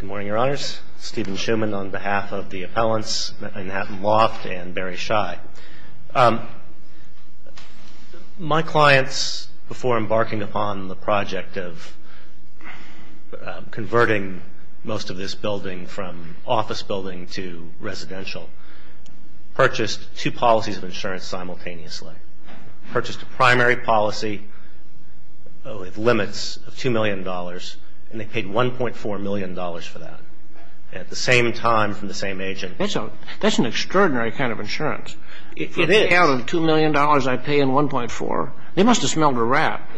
Good morning, Your Honors. Stephen Shuman on behalf of the appellants, Manhattan Loft and Barry Shy. My clients, before embarking upon the project of converting most of this building from office building to residential, purchased two policies of insurance simultaneously. Purchased a primary policy with limits of $2 million, and they paid $1.4 million for that at the same time from the same agent. That's an extraordinary kind of insurance. It is. If you count the $2 million I pay in 1.4, they must have smelled a rat.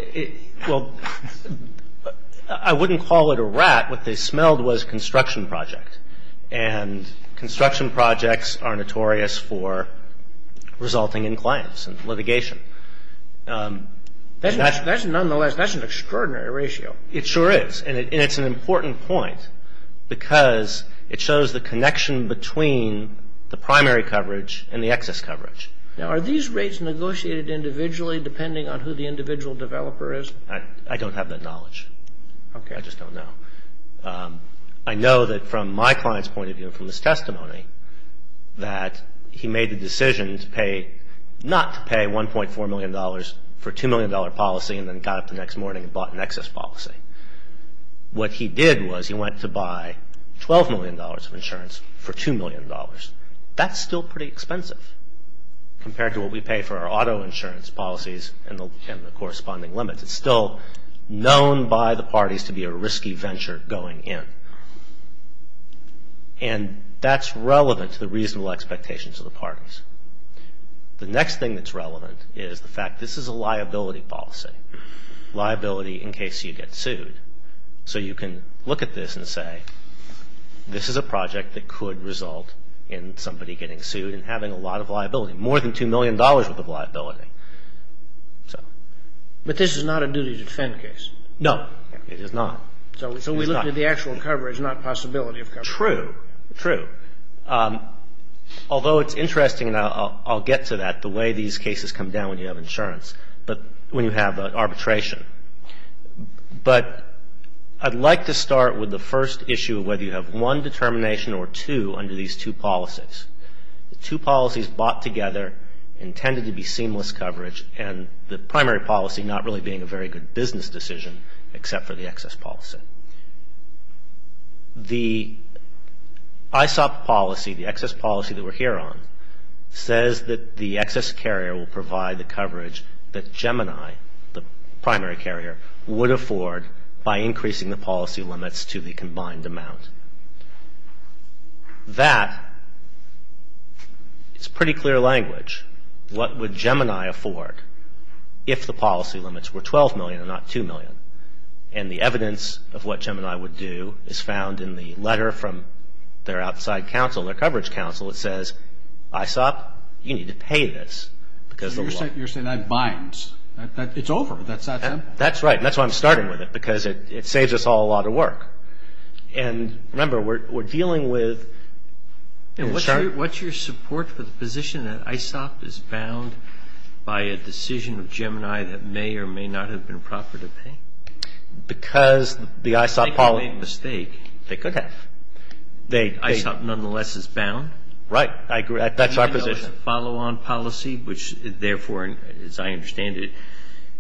Well, I wouldn't call it a rat. What they smelled was a construction project, and construction projects are notorious for resulting in claims and litigation. Nonetheless, that's an extraordinary ratio. It sure is, and it's an important point because it shows the connection between the primary coverage and the excess coverage. Now, are these rates negotiated individually depending on who the individual developer is? I don't have that knowledge. Okay. I just don't know. I know that from my client's point of view and from his testimony that he made the decision not to pay $1.4 million for a $2 million policy and then got up the next morning and bought an excess policy. What he did was he went to buy $12 million of insurance for $2 million. That's still pretty expensive compared to what we pay for our auto insurance policies and the corresponding limits. It's still known by the parties to be a risky venture going in, and that's relevant to the reasonable expectations of the parties. The next thing that's relevant is the fact this is a liability policy, liability in case you get sued. So you can look at this and say this is a project that could result in somebody getting sued and having a lot of liability, more than $2 million worth of liability. But this is not a duty to defend case. No, it is not. So we look at the actual coverage, not possibility of coverage. True, true. Although it's interesting, and I'll get to that, the way these cases come down when you have insurance, but when you have arbitration. But I'd like to start with the first issue of whether you have one determination or two under these two policies. The two policies bought together intended to be seamless coverage, and the primary policy not really being a very good business decision except for the excess policy. The ISOP policy, the excess policy that we're here on, says that the excess carrier will provide the coverage that Gemini, the primary carrier, would afford by increasing the policy limits to the combined amount. That is pretty clear language. What would Gemini afford if the policy limits were $12 million and not $2 million? And the evidence of what Gemini would do is found in the letter from their outside counsel, their coverage counsel. It says, ISOP, you need to pay this. You're saying that binds. It's over. That's that simple. That's right. And remember, we're dealing with the start. What's your support for the position that ISOP is bound by a decision of Gemini that may or may not have been proper to pay? Because the ISOP policy. I think they made a mistake. They could have. ISOP nonetheless is bound. Right. I agree. That's our position. It's a follow-on policy, which, therefore, as I understand it,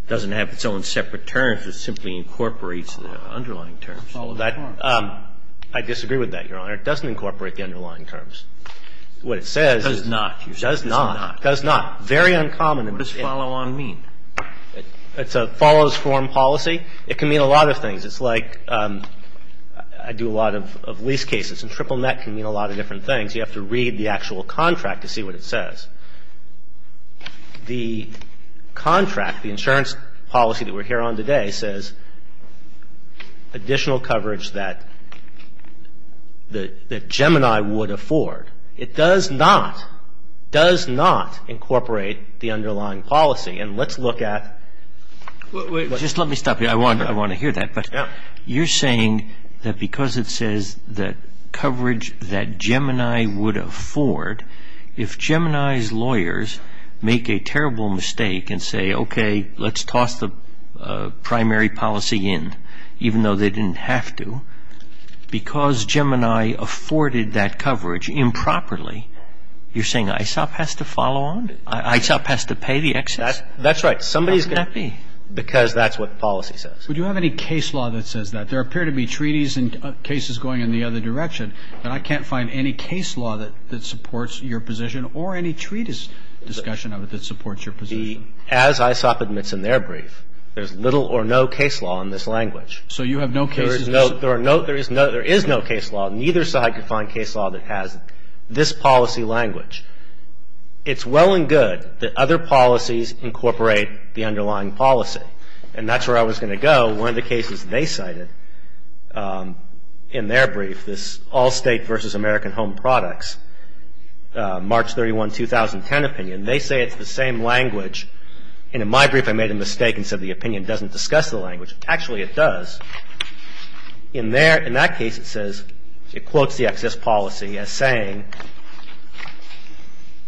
doesn't have its own separate terms. It simply incorporates the underlying terms. I disagree with that, Your Honor. It doesn't incorporate the underlying terms. What it says is. It does not. It does not. Very uncommon. What does follow-on mean? It's a follows-form policy. It can mean a lot of things. It's like I do a lot of lease cases, and triple net can mean a lot of different things. You have to read the actual contract to see what it says. The contract, the insurance policy that we're here on today, says additional coverage that Gemini would afford. It does not, does not incorporate the underlying policy. And let's look at. Just let me stop you. I want to hear that. But you're saying that because it says that coverage that Gemini would afford, if Gemini's lawyers make a terrible mistake and say, okay, let's toss the primary policy in, even though they didn't have to, because Gemini afforded that coverage improperly, you're saying ISOP has to follow on? ISOP has to pay the excess? That's right. Because that's what the policy says. Would you have any case law that says that? There appear to be treaties and cases going in the other direction, but I can't find any case law that supports your position or any treatise discussion of it that supports your position. As ISOP admits in their brief, there's little or no case law in this language. So you have no cases? There is no case law. Neither side can find case law that has this policy language. It's well and good that other policies incorporate the underlying policy. And that's where I was going to go. One of the cases they cited in their brief, this All State versus American Home Products, March 31, 2010 opinion, they say it's the same language. And in my brief, I made a mistake and said the opinion doesn't discuss the language. Actually, it does. In that case, it quotes the excess policy as saying,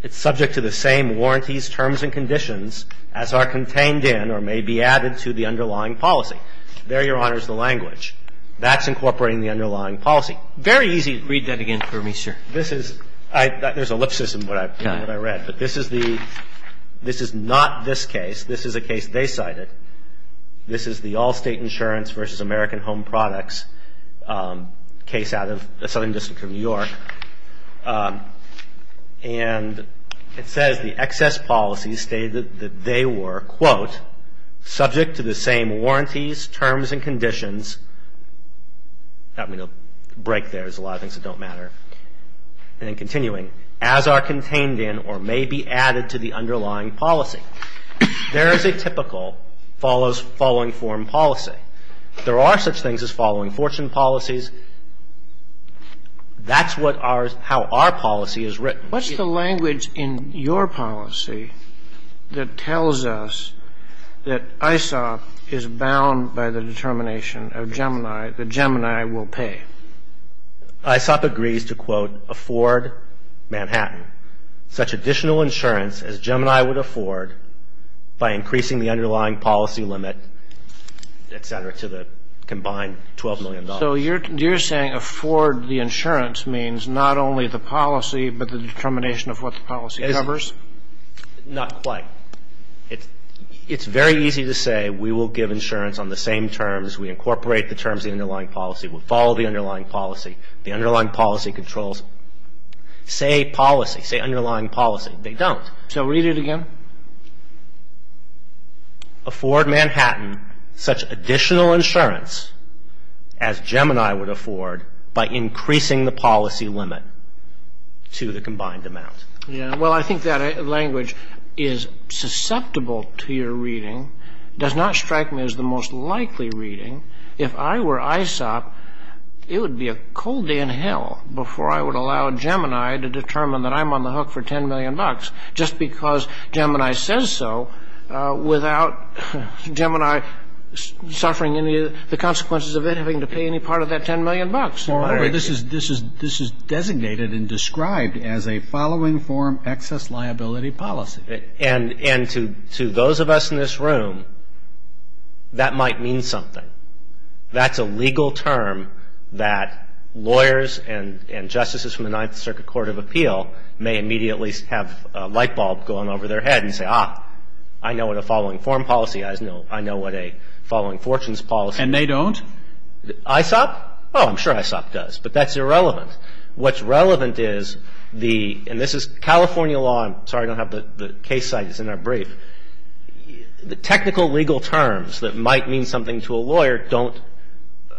it's subject to the same warranties, terms, and conditions as are contained in or may be added to the underlying policy. There, Your Honor, is the language. That's incorporating the underlying policy. Very easy. Read that again for me, sir. This is – there's ellipsis in what I read. But this is the – this is not this case. This is a case they cited. This is the All State Insurance versus American Home Products case out of the southern district of New York. And it says the excess policy stated that they were, quote, subject to the same warranties, terms, and conditions. I mean, a break there. There's a lot of things that don't matter. And then continuing, as are contained in or may be added to the underlying policy. There is a typical following form policy. There are such things as following fortune policies. That's what our – how our policy is written. What's the language in your policy that tells us that ISOP is bound by the determination of Gemini that Gemini will pay? ISOP agrees to, quote, afford Manhattan such additional insurance as Gemini would afford by increasing the underlying policy limit, et cetera, to the combined $12 million. So you're saying afford the insurance means not only the policy but the determination of what the policy covers? Not quite. It's very easy to say we will give insurance on the same terms. We incorporate the terms of the underlying policy. We'll follow the underlying policy. The underlying policy controls. Say policy. Say underlying policy. They don't. So read it again. Afford Manhattan such additional insurance as Gemini would afford by increasing the policy limit to the combined amount. Yeah. Well, I think that language is susceptible to your reading, does not strike me as the most likely reading. If I were ISOP, it would be a cold day in hell before I would allow Gemini to determine that I'm on the hook for $10 million. Just because Gemini says so without Gemini suffering any of the consequences of it having to pay any part of that $10 million. Moreover, this is designated and described as a following form excess liability policy. And to those of us in this room, that might mean something. That's a legal term that lawyers and justices from the Ninth Circuit Court of Appeal may immediately have a light bulb going over their head and say, ah, I know what a following form policy is. I know what a following fortunes policy is. And they don't? ISOP? Oh, I'm sure ISOP does. But that's irrelevant. What's relevant is the, and this is California law. I'm sorry I don't have the case cited. It's in our brief. The technical legal terms that might mean something to a lawyer don't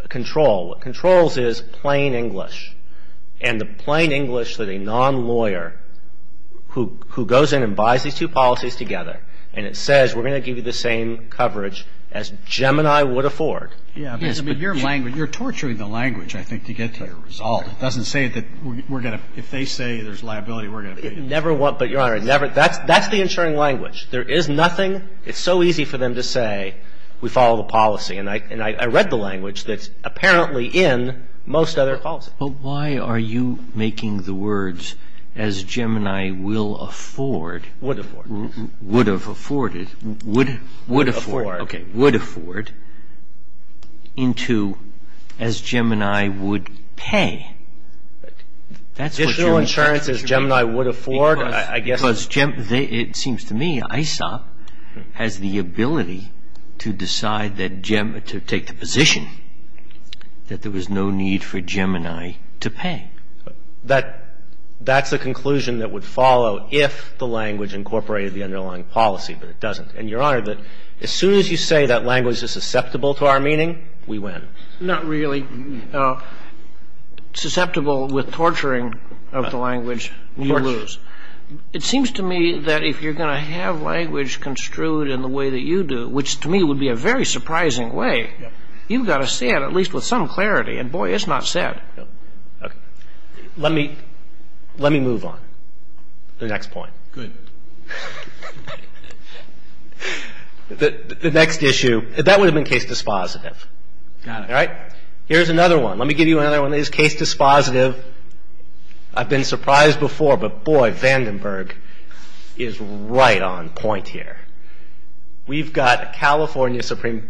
control. What controls is plain English. And the plain English that a non-lawyer who goes in and buys these two policies together and it says we're going to give you the same coverage as Gemini would afford. Yes, but your language, you're torturing the language, I think, to get to the result. It doesn't say that we're going to, if they say there's liability, we're going to pay it. It never, but Your Honor, it never, that's the insuring language. There is nothing, it's so easy for them to say we follow the policy. And I read the language that's apparently in most other policies. But why are you making the words as Gemini will afford. Would afford. Would have afforded. Would afford. Okay, would afford into as Gemini would pay. Additional insurance as Gemini would afford, I guess. Because it seems to me ISOP has the ability to decide that, to take the position that there was no need for Gemini to pay. That's the conclusion that would follow if the language incorporated the underlying policy. But it doesn't. And, Your Honor, as soon as you say that language is susceptible to our meaning, we win. Not really. Susceptible with torturing of the language, you lose. It seems to me that if you're going to have language construed in the way that you do, which to me would be a very surprising way, you've got to say it at least with some clarity. And, boy, it's not said. Let me move on to the next point. Good. The next issue, that would have been case dispositive. Got it. Here's another one. Let me give you another one that is case dispositive. I've been surprised before, but, boy, Vandenberg is right on point here. We've got a California Supreme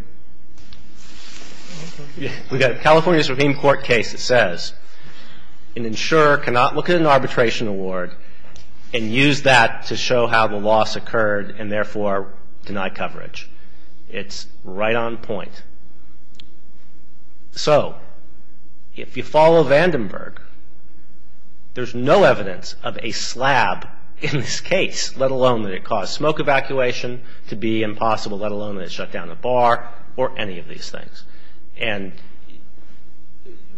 Court case that says an insurer cannot look at an arbitration award and use that to show how the loss occurred and, therefore, deny coverage. It's right on point. So, if you follow Vandenberg, there's no evidence of a slab in this case, let alone that it caused smoke evacuation to be impossible, let alone that it shut down a bar or any of these things. And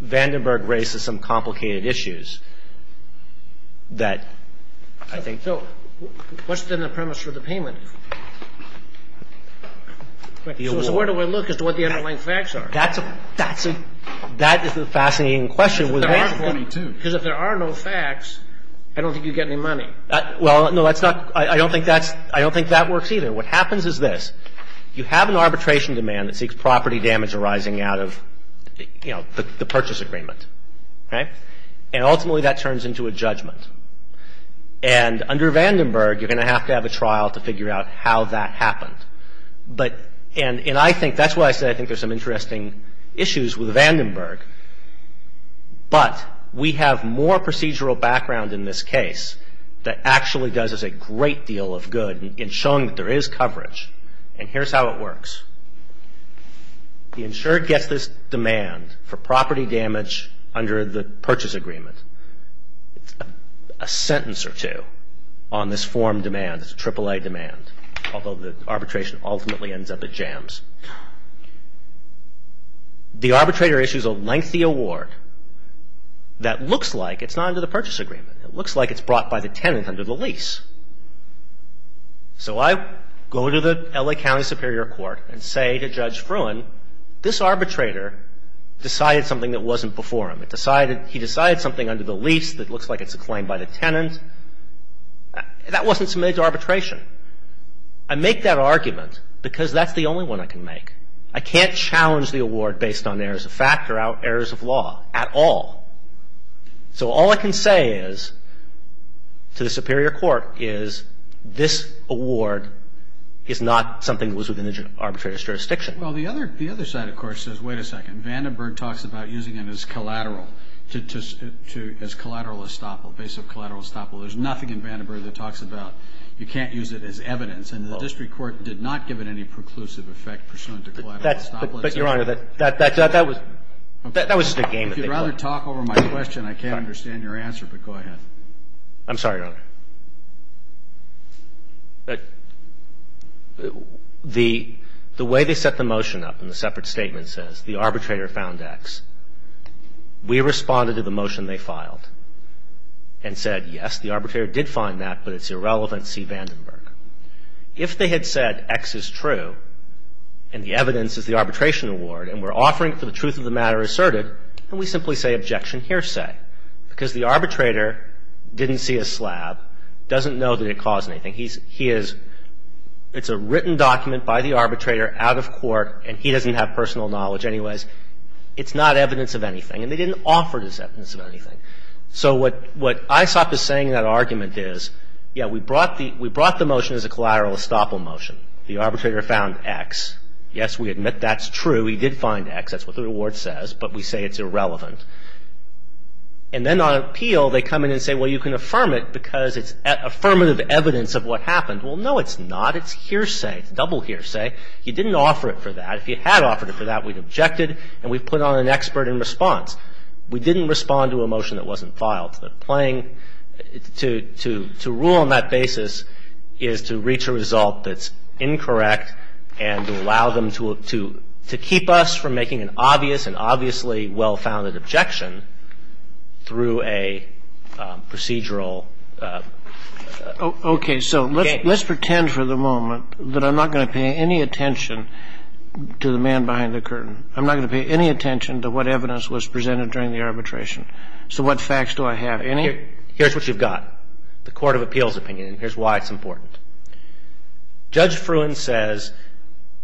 Vandenberg raises some complicated issues that I think... So what's, then, the premise for the payment? So where do I look as to what the underlying facts are? That is a fascinating question. Because if there are no facts, I don't think you get any money. Well, no, that's not... I don't think that works either. What happens is this. You have an arbitration demand that seeks property damage arising out of, you know, the purchase agreement. Okay? And, ultimately, that turns into a judgment. And under Vandenberg, you're going to have to have a trial to figure out how that happened. And I think that's why I said I think there's some interesting issues with Vandenberg. But we have more procedural background in this case that actually does us a great deal of good in showing that there is coverage. And here's how it works. The insured gets this demand for property damage under the purchase agreement. It's a sentence or two on this form demand, this AAA demand, although the arbitration ultimately ends up at jams. The arbitrator issues a lengthy award that looks like it's not under the purchase agreement. It looks like it's brought by the tenant under the lease. So I go to the L.A. County Superior Court and say to Judge Fruin, this arbitrator decided something that wasn't before him. He decided something under the lease that looks like it's a claim by the tenant. That wasn't submitted to arbitration. I can't challenge the award based on errors of fact or errors of law at all. So all I can say is, to the Superior Court, is this award is not something that was within the arbitrator's jurisdiction. Well, the other side, of course, says, wait a second, Vandenberg talks about using it as collateral, as collateral estoppel, base of collateral estoppel. There's nothing in Vandenberg that talks about you can't use it as evidence. And the district court did not give it any preclusive effect pursuant to collateral estoppel. But, Your Honor, that was just a game that they played. If you'd rather talk over my question, I can't understand your answer, but go ahead. I'm sorry, Your Honor. The way they set the motion up in the separate statement says the arbitrator found X. We responded to the motion they filed and said, yes, the arbitrator did find that, but it's irrelevant, see Vandenberg. If they had said X is true and the evidence is the arbitration award and we're offering it for the truth of the matter asserted, then we simply say objection hearsay. Because the arbitrator didn't see a slab, doesn't know that it caused anything. He is – it's a written document by the arbitrator out of court, and he doesn't have personal knowledge anyways. It's not evidence of anything. And they didn't offer it as evidence of anything. So what ISOP is saying in that argument is, yeah, we brought the motion as a collateral estoppel motion. The arbitrator found X. Yes, we admit that's true. He did find X. That's what the reward says, but we say it's irrelevant. And then on appeal, they come in and say, well, you can affirm it because it's affirmative evidence of what happened. Well, no, it's not. It's hearsay. It's double hearsay. You didn't offer it for that. If you had offered it for that, we'd object it, and we'd put on an expert in response. We didn't respond to a motion that wasn't filed. The playing – to rule on that basis is to reach a result that's incorrect and to allow them to keep us from making an obvious and obviously well-founded objection through a procedural game. Okay. So let's pretend for the moment that I'm not going to pay any attention to the man behind the curtain. I'm not going to pay any attention to what evidence was presented during the arbitration. So what facts do I have? Any? Here's what you've got, the court of appeals opinion, and here's why it's important. Judge Fruin says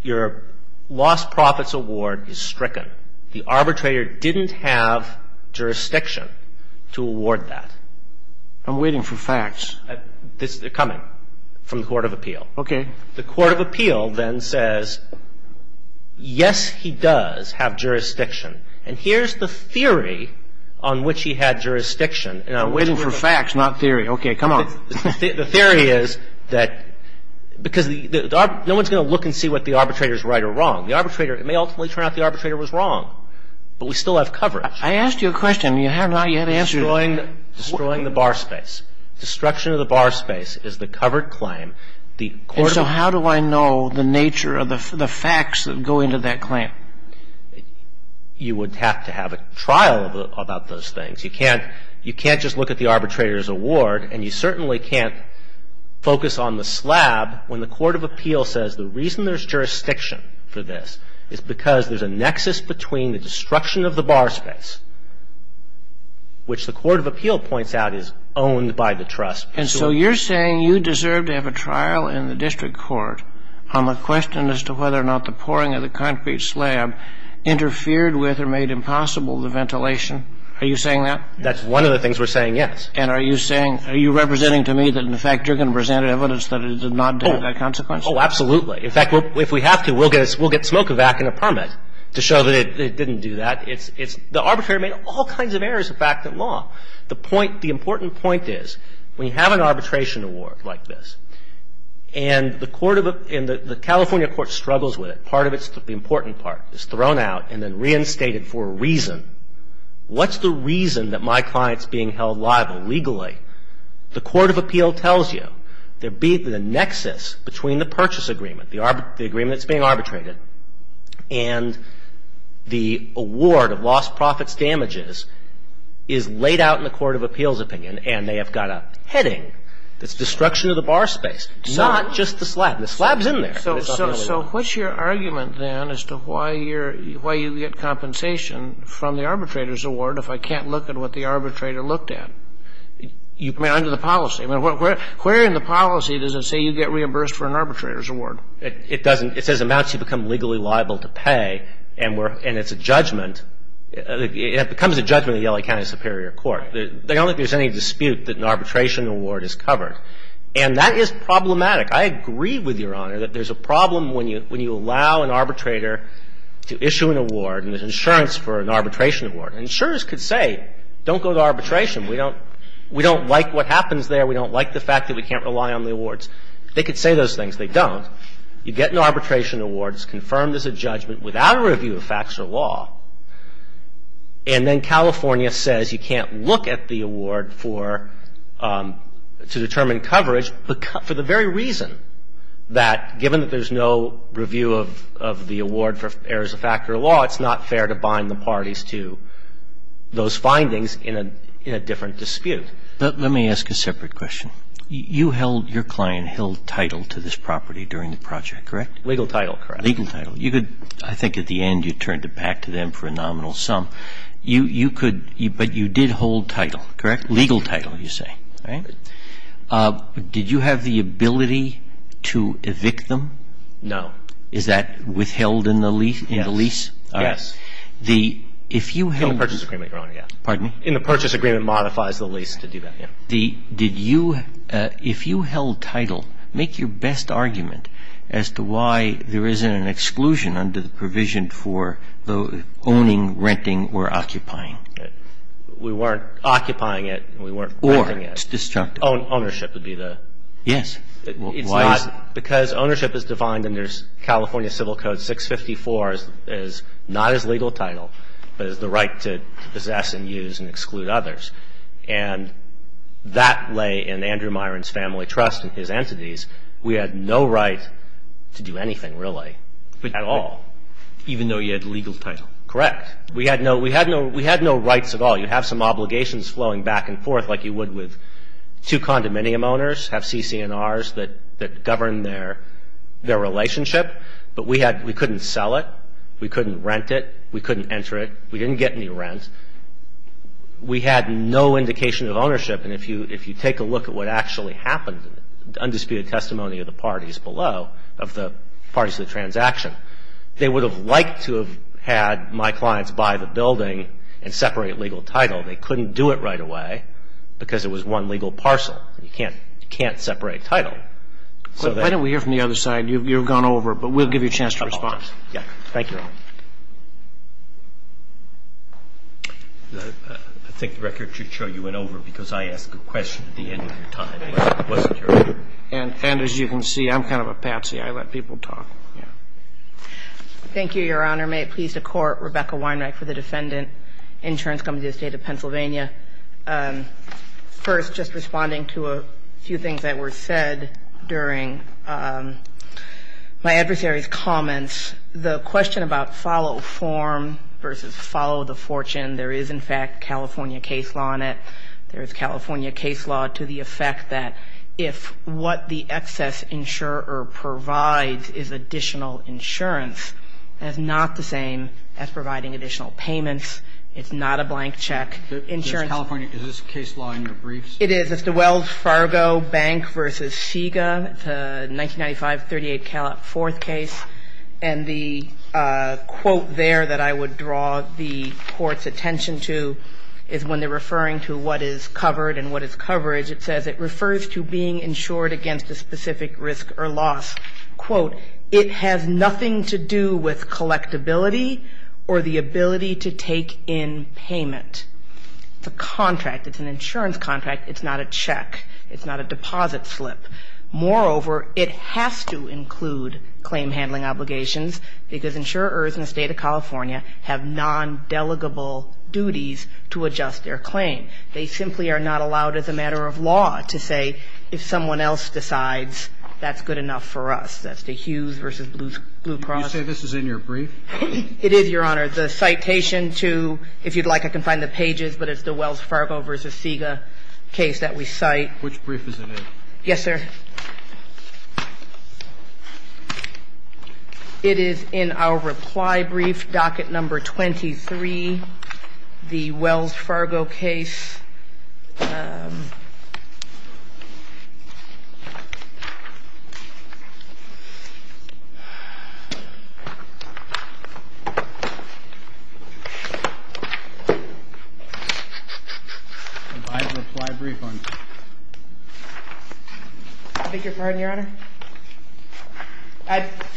your lost profits award is stricken. The arbitrator didn't have jurisdiction to award that. I'm waiting for facts. They're coming from the court of appeal. Okay. The court of appeal then says, yes, he does have jurisdiction. And here's the theory on which he had jurisdiction. I'm waiting for facts, not theory. Okay. Come on. The theory is that – because no one's going to look and see what the arbitrator's right or wrong. The arbitrator – it may ultimately turn out the arbitrator was wrong, but we still have coverage. I asked you a question. You have not yet answered it. Destroying the bar space. Destruction of the bar space is the covered claim. And so how do I know the nature of the facts that go into that claim? You would have to have a trial about those things. You can't just look at the arbitrator's award, and you certainly can't focus on the slab when the court of appeal says the reason there's jurisdiction for this is because there's a nexus between the destruction of the bar space, which the court of appeal points out is owned by the trust. And so you're saying you deserve to have a trial in the district court on the question as to whether or not the pouring of the concrete slab interfered with or made impossible the ventilation. Are you saying that? That's one of the things we're saying, yes. And are you saying – are you representing to me that, in fact, you're going to present evidence that it did not have that consequence? Oh, absolutely. In fact, if we have to, we'll get a – we'll get Smokovac and a permit to show that it didn't do that. It's – the arbitrator made all kinds of errors of fact and law. The point – the important point is when you have an arbitration award like this and the court of – and the California court struggles with it, part of it's the important part is thrown out and then reinstated for a reason. What's the reason that my client's being held liable legally? The court of appeal tells you there'd be the nexus between the purchase agreement, the agreement that's being arbitrated, and the award of lost profits damages is laid out in the court of appeals opinion and they have got a heading that's destruction of the bar space, not just the slab. The slab's in there. So what's your argument, then, as to why you're – why you get compensation from the arbitrator's award if I can't look at what the arbitrator looked at under the policy? I mean, where in the policy does it say you get reimbursed for an arbitrator's award? It doesn't. It says amounts you become legally liable to pay and it's a judgment. It becomes a judgment in the L.A. County Superior Court. They don't think there's any dispute that an arbitration award is covered. And that is problematic. I agree with Your Honor that there's a problem when you allow an arbitrator to issue an award and there's insurance for an arbitration award. And insurers could say, don't go to arbitration. We don't like what happens there. We don't like the fact that we can't rely on the awards. They could say those things. They don't. You get an arbitration award. It's confirmed as a judgment without a review of facts or law. And then California says you can't look at the award for – to determine coverage for the very reason that given that there's no review of the award for errors of fact or law, it's not fair to bind the parties to those findings in a different dispute. But let me ask a separate question. You held – your client held title to this property during the project, correct? Legal title, correct. Legal title. You could – I think at the end you turned it back to them for a nominal sum. You could – but you did hold title, correct? Legal title, you say. All right. Did you have the ability to evict them? No. Is that withheld in the lease? Yes. All right. If you held – In the purchase agreement, Your Honor, yes. Pardon? In the purchase agreement modifies the lease to do that, yes. Did you – if you held title, make your best argument as to why there isn't an exclusion under the provision for owning, renting or occupying. We weren't occupying it. We weren't renting it. Or it's destructive. Ownership would be the – Yes. Why is – It's not because ownership is defined under California Civil Code 654 as not as legal title, but as the right to possess and use and exclude others. And that lay in Andrew Myron's family trust and his entities. We had no right to do anything, really, at all. Even though you had legal title? Correct. We had no rights at all. You have some obligations flowing back and forth like you would with two condominium owners, have CC&Rs that govern their relationship. But we had – we couldn't sell it. We couldn't rent it. We couldn't enter it. We didn't get any rent. We had no indication of ownership. And if you take a look at what actually happened, undisputed testimony of the parties below, of the parties to the transaction, they would have liked to have had my clients buy the building and separate legal title. They couldn't do it right away because it was one legal parcel. You can't separate title. Why don't we hear from the other side? You've gone over. But we'll give you a chance to respond. Thank you. I think the record should show you went over because I asked a question at the end of your time. It wasn't your turn. And as you can see, I'm kind of a patsy. I let people talk. Yeah. Thank you, Your Honor. May it please the Court, Rebecca Weinreich for the Defendant, Insurance Company of the State of Pennsylvania. It's the question about follow form versus follow the fortune. There is, in fact, California case law in it. There is California case law to the effect that if what the excess insurer provides is additional insurance, that's not the same as providing additional payments. It's not a blank check. California, is this case law in your briefs? It is. It's the Wells Fargo Bank versus Sega, the 1995 38-callot fourth case. And the quote there that I would draw the Court's attention to is when they're referring to what is covered and what is coverage, it says it refers to being insured against a specific risk or loss. Quote, it has nothing to do with collectability or the ability to take in payment. It's a contract. It's an insurance contract. It's not a check. It's not a deposit slip. Moreover, it has to include claim handling obligations because insurers in the State of California have nondelegable duties to adjust their claim. They simply are not allowed as a matter of law to say if someone else decides, that's good enough for us. That's the Hughes versus Blue Cross. Do you say this is in your brief? It is, Your Honor. The citation to, if you'd like, I can find the pages, but it's the Wells Fargo versus Sega case that we cite. Which brief is it in? Yes, sir. It is in our reply brief, docket number 23, the Wells Fargo case.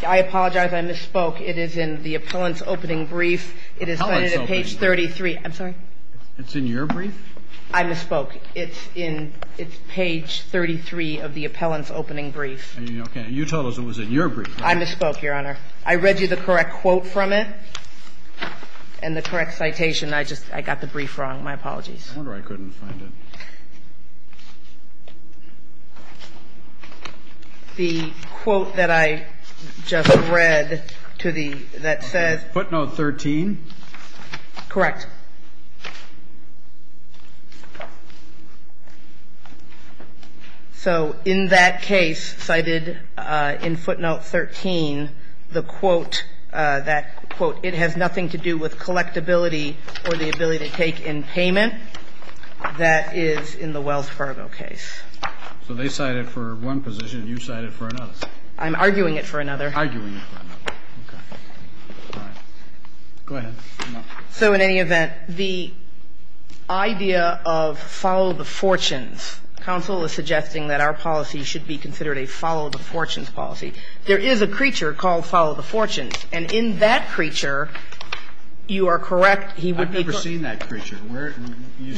I apologize, I misspoke. It is in the appellant's opening brief. It is cited at page 33. I'm sorry? It's in your brief? I misspoke. It's in, it's page 33 of the appellant's opening brief. Okay. You told us it was in your brief. I misspoke, Your Honor. I read you the correct quote from it and the correct citation. I just, I got the brief wrong. My apologies. I wonder why I couldn't find it. The quote that I just read to the, that says. Footnote 13. Correct. So in that case cited in footnote 13, the quote that, quote, it has nothing to do with collectability or the ability to take in payment, that is in the Wells Fargo case. So they cite it for one position. You cite it for another. I'm arguing it for another. Arguing it for another. Okay. All right. Go ahead. So in any event, the idea of follow the fortunes, counsel is suggesting that our policy should be considered a follow the fortunes policy. There is a creature called follow the fortunes. And in that creature, you are correct. I've never seen that creature. You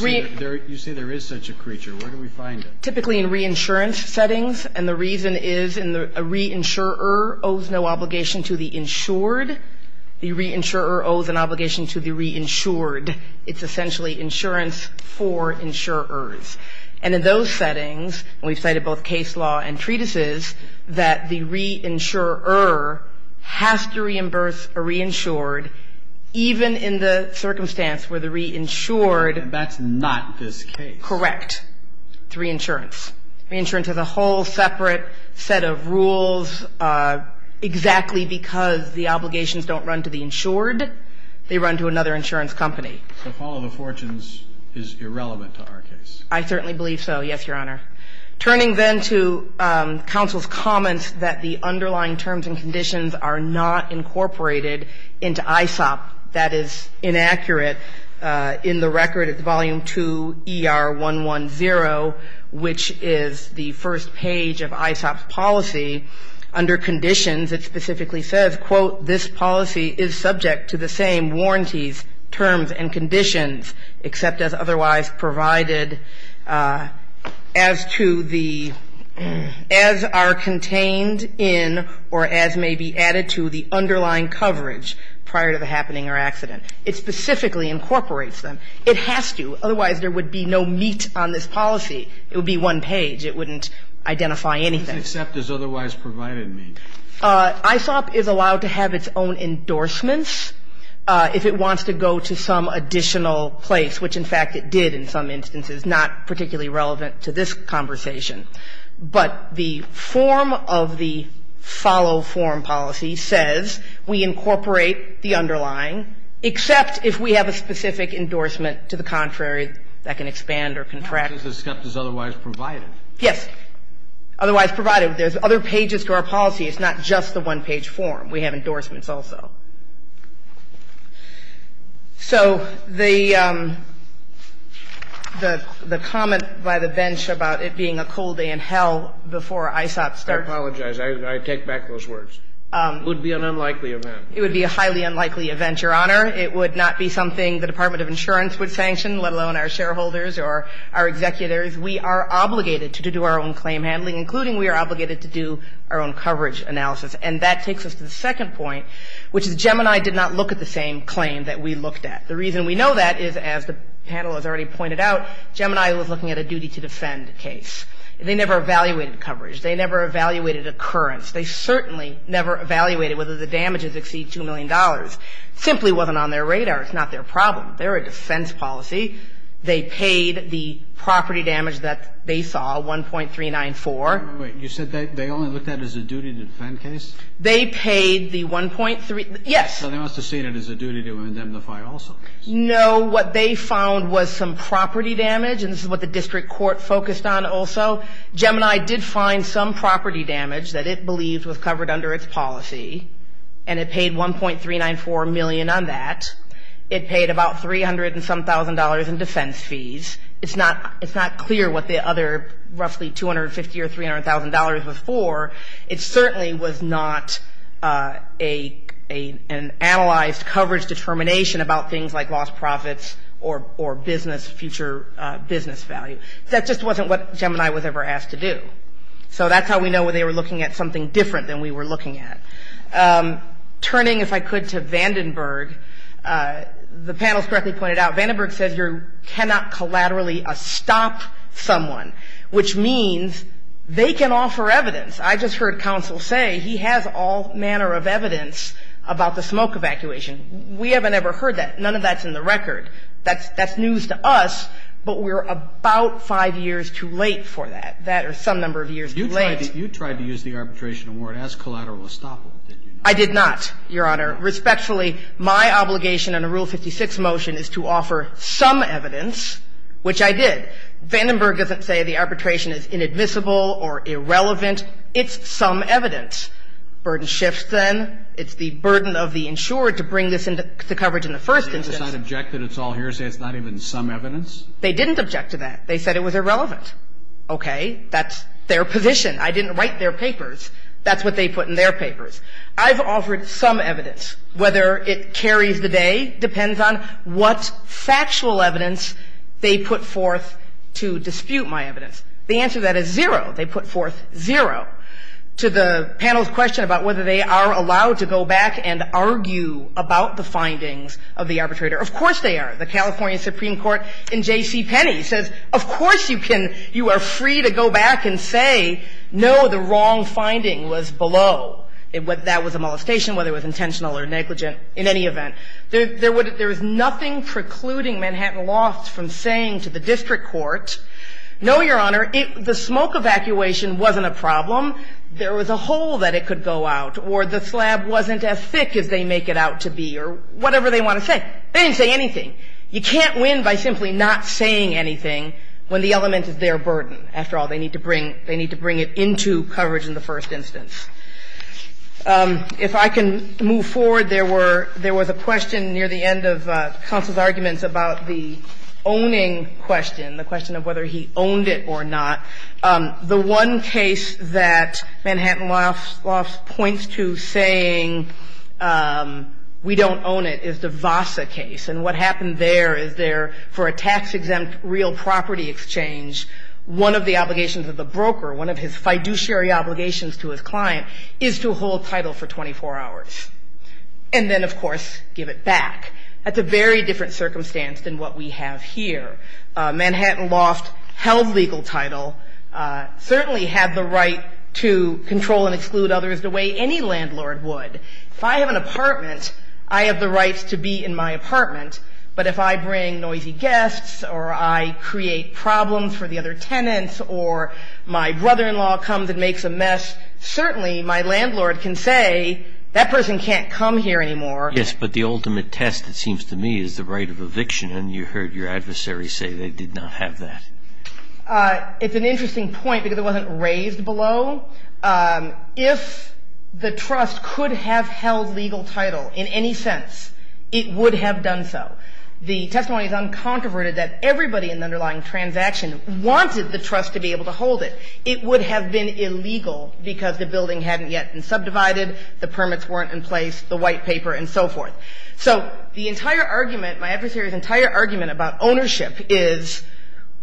say there is such a creature. Where do we find it? Typically in reinsurance settings. And the reason is a reinsurer owes no obligation to the insured. The reinsurer owes an obligation to the reinsured. It's essentially insurance for insurers. And in those settings, and we've cited both case law and treatises, that the reinsurer has to reimburse a reinsured, even in the circumstance where the reinsured. And that's not this case. Correct. It's reinsurance. Reinsurance has a whole separate set of rules. Exactly because the obligations don't run to the insured, they run to another insurance company. So follow the fortunes is irrelevant to our case. I certainly believe so. Yes, Your Honor. Turning then to counsel's comments that the underlying terms and conditions are not incorporated into ISOP, that is inaccurate. In the record, it's volume 2 ER110, which is the first page of ISOP's policy. Under conditions, it specifically says, quote, this policy is subject to the same warranties, terms, and conditions, except as otherwise provided as to the as are contained in or as may be added to the underlying coverage prior to the happening or accident. It specifically incorporates them. It has to. Otherwise, there would be no meat on this policy. It would be one page. It wouldn't identify anything. Except as otherwise provided means. ISOP is allowed to have its own endorsements if it wants to go to some additional place, which, in fact, it did in some instances, not particularly relevant to this conversation. But the form of the follow-form policy says we incorporate the underlying, except if we have a specific endorsement to the contrary that can expand or contract. That's as is otherwise provided. Yes. Otherwise provided. There's other pages to our policy. It's not just the one-page form. We have endorsements also. So the comment by the bench about it being a cold day in hell before ISOP starts I apologize. I take back those words. It would be an unlikely event. It would be a highly unlikely event, Your Honor. It would not be something the Department of Insurance would sanction, let alone our shareholders or our executors. We are obligated to do our own claim handling, including we are obligated to do our And that takes us to the second point, which is that the Department of Insurance did not look at the same claim that we looked at. The reason we know that is, as the panel has already pointed out, Gemini was looking at a duty-to-defend case. They never evaluated coverage. They never evaluated occurrence. They certainly never evaluated whether the damages exceed $2 million. It simply wasn't on their radar. It's not their problem. They're a defense policy. They paid the property damage that they saw, 1.394. Wait. You said they only looked at it as a duty-to-defend case? They paid the 1.3. Yes. So they must have seen it as a duty to indemnify also? No. What they found was some property damage, and this is what the district court focused on also. Gemini did find some property damage that it believed was covered under its policy, and it paid 1.394 million on that. It paid about $307,000 in defense fees. It's not clear what the other roughly $250,000 or $300,000 was for. It certainly was not an analyzed coverage determination about things like lost profits or business, future business value. That just wasn't what Gemini was ever asked to do. So that's how we know they were looking at something different than we were looking at. Turning, if I could, to Vandenberg, the panel's correctly pointed out, Vandenberg says you cannot collaterally stop someone, which means they can offer evidence. I just heard counsel say he has all manner of evidence about the smoke evacuation. We haven't ever heard that. None of that's in the record. That's news to us, but we're about five years too late for that. That or some number of years too late. You tried to use the arbitration award as collateral estoppel, did you not? I did not, Your Honor. Respectfully, my obligation under Rule 56 motion is to offer some evidence, which I did. Vandenberg doesn't say the arbitration is inadmissible or irrelevant. It's some evidence. Burden shifts, then. It's the burden of the insured to bring this into the coverage in the first instance. They just don't object that it's all hearsay. It's not even some evidence? They didn't object to that. They said it was irrelevant. Okay. That's their position. I didn't write their papers. That's what they put in their papers. I've offered some evidence. Whether it carries the day depends on what factual evidence they put forth to dispute my evidence. The answer to that is zero. They put forth zero. To the panel's question about whether they are allowed to go back and argue about the findings of the arbitrator, of course they are. The California Supreme Court in J.C. Penney says, of course you can. You are free to go back and say, no, the wrong finding was below. That was a molestation, whether it was intentional or negligent. In any event, there is nothing precluding Manhattan Lofts from saying to the district court, no, Your Honor, the smoke evacuation wasn't a problem. There was a hole that it could go out, or the slab wasn't as thick as they make it out to be, or whatever they want to say. They didn't say anything. You can't win by simply not saying anything when the element is their burden. After all, they need to bring it into coverage in the first instance. If I can move forward, there were – there was a question near the end of counsel's arguments about the owning question, the question of whether he owned it or not. The one case that Manhattan Lofts points to saying we don't own it is the Vassa case. And what happened there is there, for a tax-exempt real property exchange, one of the primary obligations to his client is to hold title for 24 hours. And then, of course, give it back. That's a very different circumstance than what we have here. Manhattan Loft held legal title, certainly had the right to control and exclude others the way any landlord would. If I have an apartment, I have the right to be in my apartment. But if I bring noisy guests, or I create problems for the other tenants, or my landlord makes a mess, certainly my landlord can say that person can't come here anymore. Yes, but the ultimate test, it seems to me, is the right of eviction. And you heard your adversary say they did not have that. It's an interesting point because it wasn't raised below. If the trust could have held legal title in any sense, it would have done so. The testimony is uncontroverted that everybody in the underlying transaction wanted the trust to be able to hold it. It would have been illegal because the building hadn't yet been subdivided, the permits weren't in place, the white paper, and so forth. So the entire argument, my adversary's entire argument about ownership is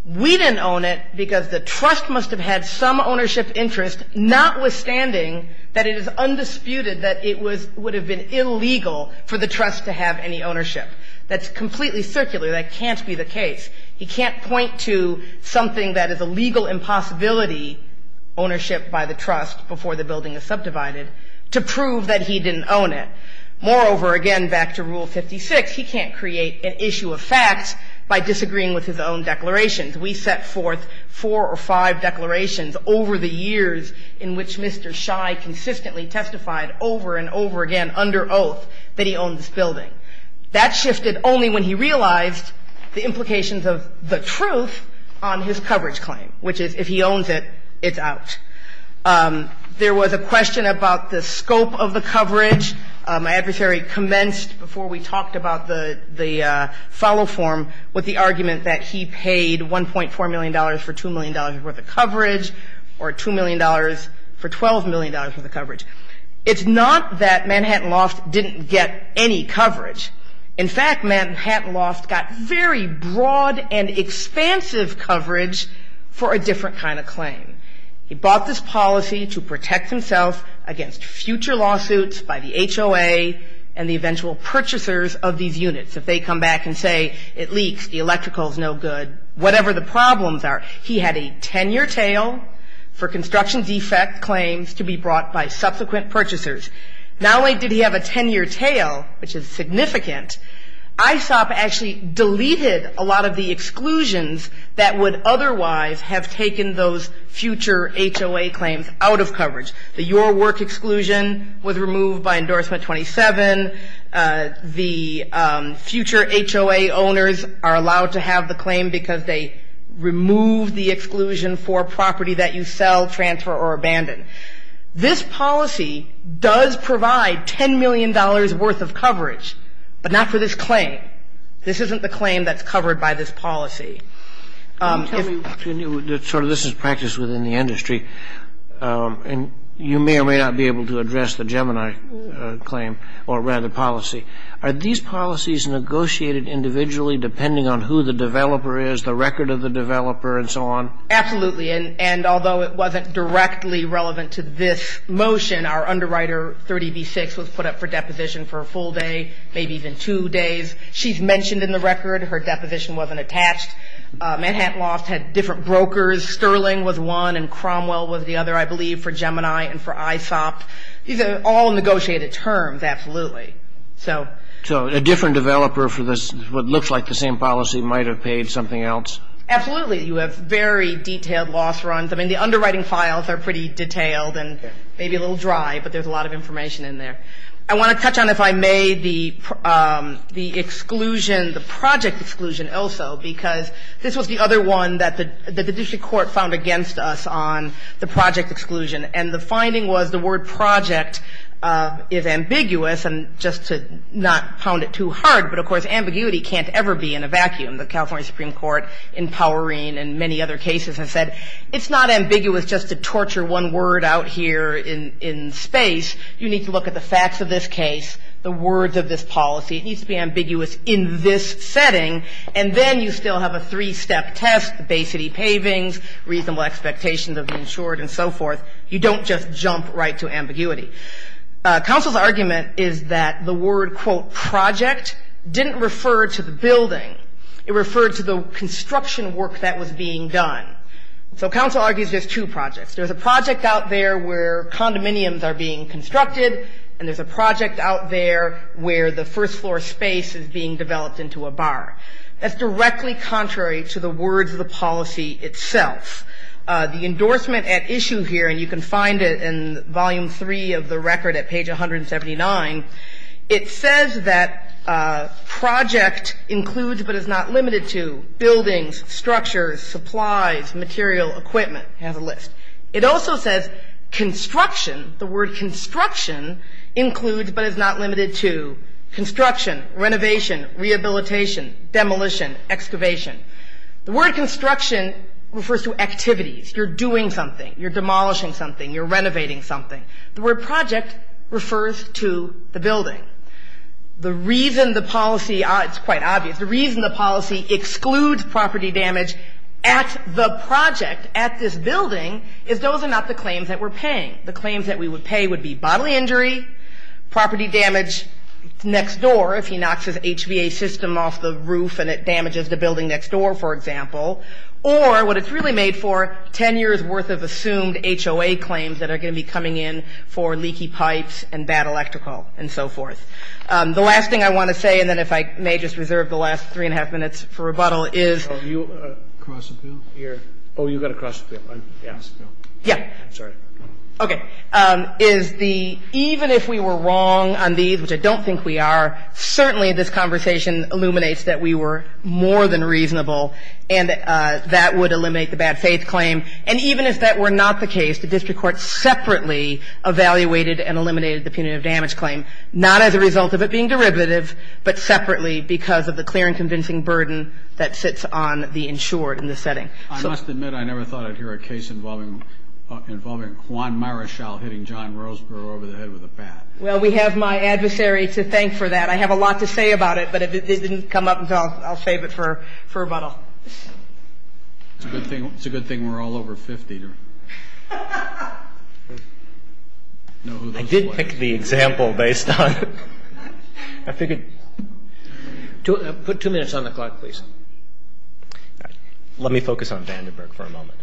we didn't own it because the trust must have had some ownership interest, notwithstanding that it is undisputed that it would have been illegal for the trust to have any ownership. That's completely circular. That can't be the case. He can't point to something that is a legal impossibility, ownership by the trust before the building is subdivided, to prove that he didn't own it. Moreover, again, back to Rule 56, he can't create an issue of facts by disagreeing with his own declarations. We set forth four or five declarations over the years in which Mr. Shai consistently testified over and over again under oath that he owned this building. That shifted only when he realized the implications of the truth on his coverage claim, which is if he owns it, it's out. There was a question about the scope of the coverage. My adversary commenced before we talked about the follow-form with the argument that he paid $1.4 million for $2 million worth of coverage or $2 million for $12 million worth of coverage. It's not that Manhattan Loft didn't get any coverage. In fact, Manhattan Loft got very broad and expansive coverage for a different kind of claim. He bought this policy to protect himself against future lawsuits by the HOA and the eventual purchasers of these units. If they come back and say it leaks, the electrical is no good, whatever the problems are. He had a 10-year tail for construction defect claims to be brought by subsequent purchasers. Not only did he have a 10-year tail, which is significant, ISOP actually deleted a lot of the exclusions that would otherwise have taken those future HOA claims out of coverage. The Your Work exclusion was removed by Endorsement 27. The future HOA owners are allowed to have the claim because they removed the exclusion for property that you sell, transfer, or abandon. This policy does provide $10 million worth of coverage, but not for this claim. This isn't the claim that's covered by this policy. If you knew sort of this is practice within the industry, and you may or may not be able to address the Gemini claim, or rather policy, are these policies negotiated individually depending on who the developer is, the record of the developer, and so on? Absolutely, and although it wasn't directly relevant to this motion, our underwriter 30B6 was put up for deposition for a full day, maybe even two days. She's mentioned in the record her deposition wasn't attached. Manhattan Loft had different brokers. Sterling was one, and Cromwell was the other, I believe, for Gemini and for ISOP. These are all negotiated terms, absolutely. So a different developer for what looks like the same policy might have paid something else? Absolutely. You have very detailed loss runs. I mean, the underwriting files are pretty detailed and maybe a little dry, but there's a lot of information in there. I want to touch on, if I may, the exclusion, the project exclusion also, because this was the other one that the district court found against us on the project exclusion, and the finding was the word project is ambiguous, and just to not pound it too hard, but, of course, ambiguity can't ever be in a vacuum. The California Supreme Court, in Powerine and many other cases, has said, it's not ambiguous just to torture one word out here in space. You need to look at the facts of this case, the words of this policy. It needs to be ambiguous in this setting, and then you still have a three-step test, the Bay City pavings, reasonable expectations of the insured, and so forth. You don't just jump right to ambiguity. Counsel's argument is that the word, quote, project didn't refer to the building. It referred to the construction work that was being done. So counsel argues there's two projects. There's a project out there where condominiums are being constructed, and there's a project out there where the first floor space is being developed into a bar. That's directly contrary to the words of the policy itself. The endorsement at issue here, and you can find it in volume three of the record at page 179, it says that project includes but is not limited to buildings, structures, supplies, material, equipment. It has a list. It also says construction, the word construction includes but is not limited to construction, renovation, rehabilitation, demolition, excavation. The word construction refers to activities. You're doing something. You're demolishing something. You're renovating something. The word project refers to the building. The reason the policy – it's quite obvious. The reason the policy excludes property damage at the project, at this building, is those are not the claims that we're paying. The claims that we would pay would be bodily injury, property damage next door, if he knocks his HVA system off the roof and it damages the building next door, for example, or what it's really made for, 10 years' worth of assumed HOA claims that are going to be coming in for leaky pipes and bad electrical and so forth. The last thing I want to say, and then if I may just reserve the last three-and-a-half minutes for rebuttal, is – Oh, you got to cross the bill. Yeah. Yeah. I'm sorry. Okay. Is the – even if we were wrong on these, which I don't think we are, certainly this conversation illuminates that we were more than reasonable and that would eliminate the bad faith claim. And even if that were not the case, the district court separately evaluated and eliminated the punitive damage claim. Not as a result of it being derivative, but separately because of the clear and convincing burden that sits on the insured in this setting. I must admit I never thought I'd hear a case involving Juan Marichal hitting John Roseborough over the head with a bat. Well, we have my adversary to thank for that. I have a lot to say about it, but if it didn't come up, I'll save it for rebuttal. It's a good thing we're all over 50. I did pick the example based on – I figured – Put two minutes on the clock, please. Let me focus on Vandenberg for a moment.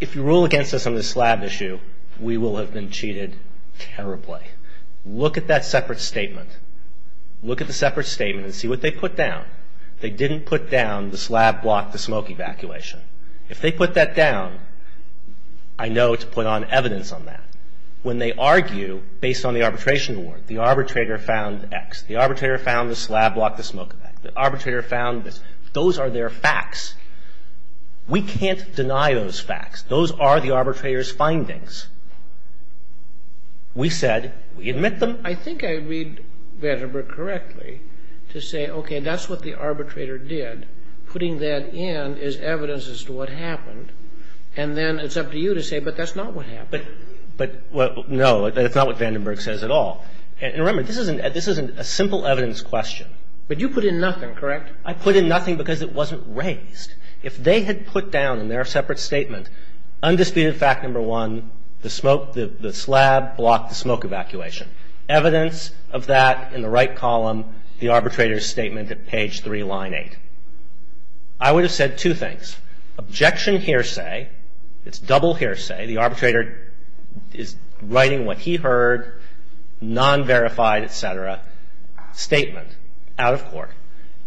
If you rule against us on the slab issue, we will have been cheated terribly. Look at that separate statement. Look at the separate statement and see what they put down. They didn't put down the slab block, the smoke evacuation. If they put that down, I know to put on evidence on that. When they argue based on the arbitration award, the arbitrator found X. The arbitrator found the slab block, the smoke evacuation. The arbitrator found this. Those are their facts. We can't deny those facts. Those are the arbitrator's findings. We said we admit them. I think I read Vandenberg correctly to say, okay, that's what the arbitrator did. Putting that in is evidence as to what happened. And then it's up to you to say, but that's not what happened. No, it's not what Vandenberg says at all. And remember, this isn't a simple evidence question. But you put in nothing, correct? I put in nothing because it wasn't raised. If they had put down in their separate statement, undisputed fact number one, the slab block, the smoke evacuation. Evidence of that in the right column, the arbitrator's statement at page 3, line 8. I would have said two things. Objection hearsay. It's double hearsay. The arbitrator is writing what he heard, non-verified, et cetera, statement, out of court.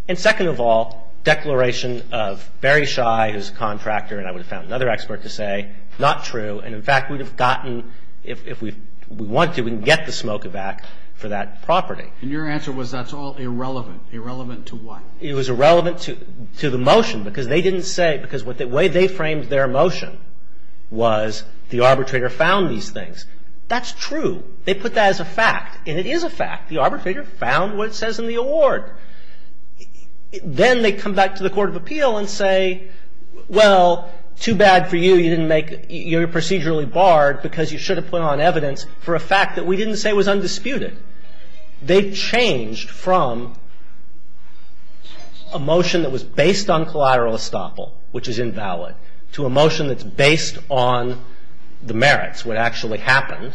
And second of all, declaration of Barry Schei, who's a contractor, and I would have found another expert to say, not true. And in fact, we would have gotten, if we wanted to, we can get the smoke evac for that property. And your answer was that's all irrelevant. Irrelevant to what? It was irrelevant to the motion because they didn't say, because the way they framed their motion was the arbitrator found these things. That's true. They put that as a fact. And it is a fact. The arbitrator found what it says in the award. Then they come back to the court of appeal and say, well, too bad for you. You're procedurally barred because you should have put on evidence for a fact that we didn't say was undisputed. They changed from a motion that was based on collateral estoppel, which is invalid, to a motion that's based on the merits, what actually happened,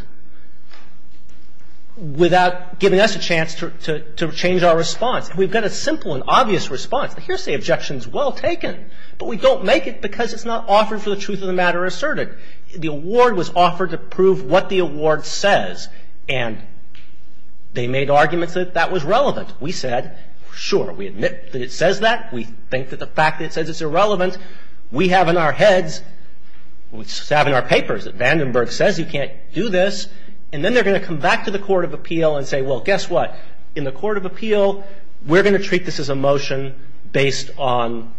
without giving us a chance to change our response. And we've got a simple and obvious response. The hearsay objection is well taken. But we don't make it because it's not offered for the truth of the matter asserted. The award was offered to prove what the award says. And they made arguments that that was relevant. We said, sure, we admit that it says that. We think that the fact that it says it's irrelevant. We have in our heads, we have in our papers that Vandenberg says you can't do this. And then they're going to come back to the court of appeal and say, well, guess what? In the court of appeal, we're going to treat this as a motion based on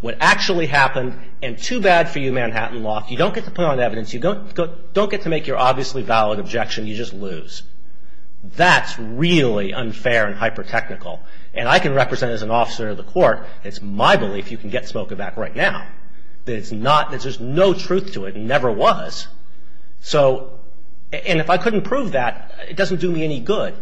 what actually happened. And too bad for you, Manhattan Loft, you don't get to put on evidence. You don't get to make your obviously valid objection. You just lose. That's really unfair and hyper-technical. And I can represent as an officer of the court, it's my belief you can get Smokaback right now, that there's no truth to it and never was. And if I couldn't prove that, it doesn't do me any good.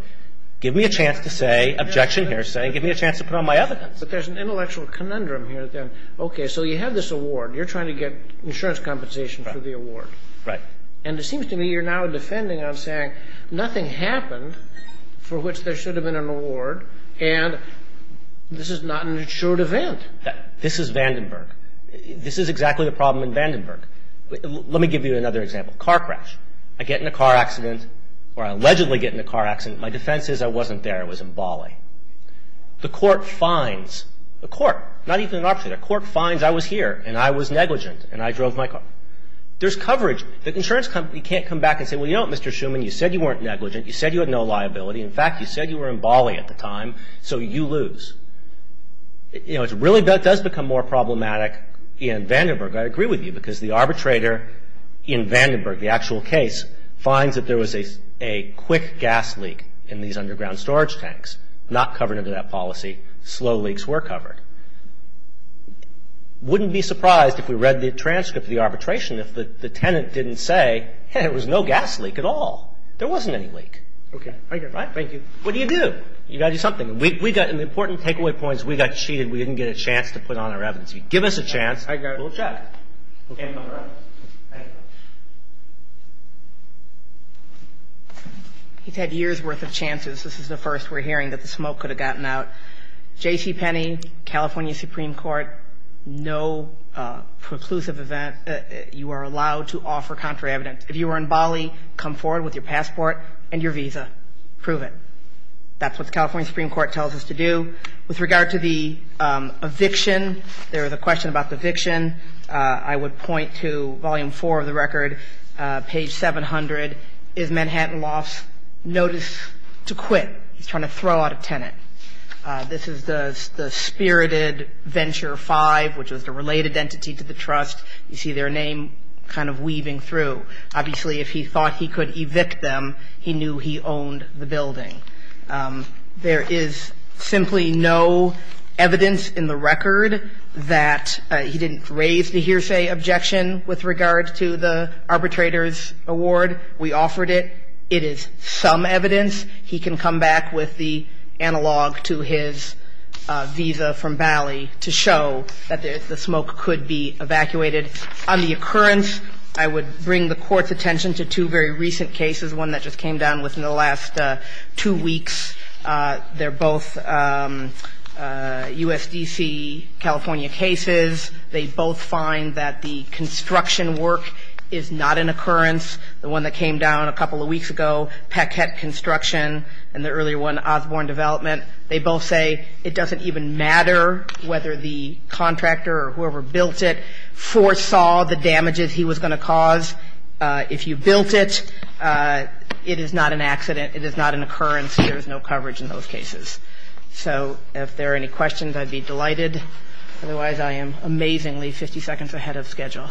Give me a chance to say, objection here saying, give me a chance to put on my evidence. But there's an intellectual conundrum here then. Okay, so you have this award. You're trying to get insurance compensation for the award. Right. And it seems to me you're now defending on saying nothing happened for which there should have been an award. And this is not an assured event. This is Vandenberg. This is exactly the problem in Vandenberg. Let me give you another example. Car crash. I get in a car accident or I allegedly get in a car accident. My defense is I wasn't there. I was in Bali. The court finds, the court, not even an arbitrator. The court finds I was here and I was negligent and I drove my car. There's coverage. The insurance company can't come back and say, well, you know what, Mr. Schuman, you said you weren't negligent. You said you had no liability. In fact, you said you were in Bali at the time, so you lose. You know, it really does become more problematic in Vandenberg. I agree with you because the arbitrator in Vandenberg, the actual case, finds that there was a quick gas leak in these underground storage tanks. Not covered under that policy. Slow leaks were covered. Wouldn't be surprised if we read the transcript of the arbitration if the tenant didn't say, hey, there was no gas leak at all. There wasn't any leak. Okay. Thank you. What do you do? You've got to do something. We got an important takeaway point is we got cheated. We didn't get a chance to put on our evidence. Give us a chance, we'll check. Okay. All right. Thank you. He's had years' worth of chances. This is the first we're hearing that the smoke could have gotten out. JCPenney, California Supreme Court, no preclusive event. You are allowed to offer counter evidence. If you were in Bali, come forward with your passport and your visa. Prove it. That's what the California Supreme Court tells us to do. With regard to the eviction, there is a question about the eviction. I would point to Volume 4 of the record, page 700, is Manhattan lost? Notice to quit. He's trying to throw out a tenant. This is the spirited Venture 5, which was the related entity to the trust. You see their name kind of weaving through. Obviously, if he thought he could evict them, he knew he owned the building. There is simply no evidence in the record that he didn't raise the hearsay objection with regard to the arbitrator's award. We offered it. It is some evidence. He can come back with the analog to his visa from Bali to show that the smoke could be evacuated. On the occurrence, I would bring the Court's attention to two very recent cases, one that just came down within the last two weeks. They're both USDC California cases. They both find that the construction work is not an occurrence. The one that came down a couple of weeks ago, Paquette Construction, and the earlier one, Osborne Development, they both say it doesn't even matter whether the contractor or whoever built it foresaw the damages he was going to cause. If you built it, it is not an accident. It is not an occurrence. There is no coverage in those cases. So if there are any questions, I'd be delighted. Otherwise, I am amazingly 50 seconds ahead of schedule.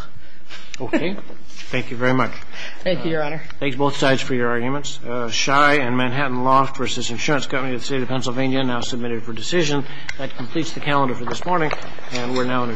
Okay. Thank you very much. Thank you, Your Honor. Thanks, both sides, for your arguments. Shy and Manhattan Loft versus Insurance Company of the State of Pennsylvania, now submitted for decision. That completes the calendar for this morning, and we're now in adjournment. Thank you.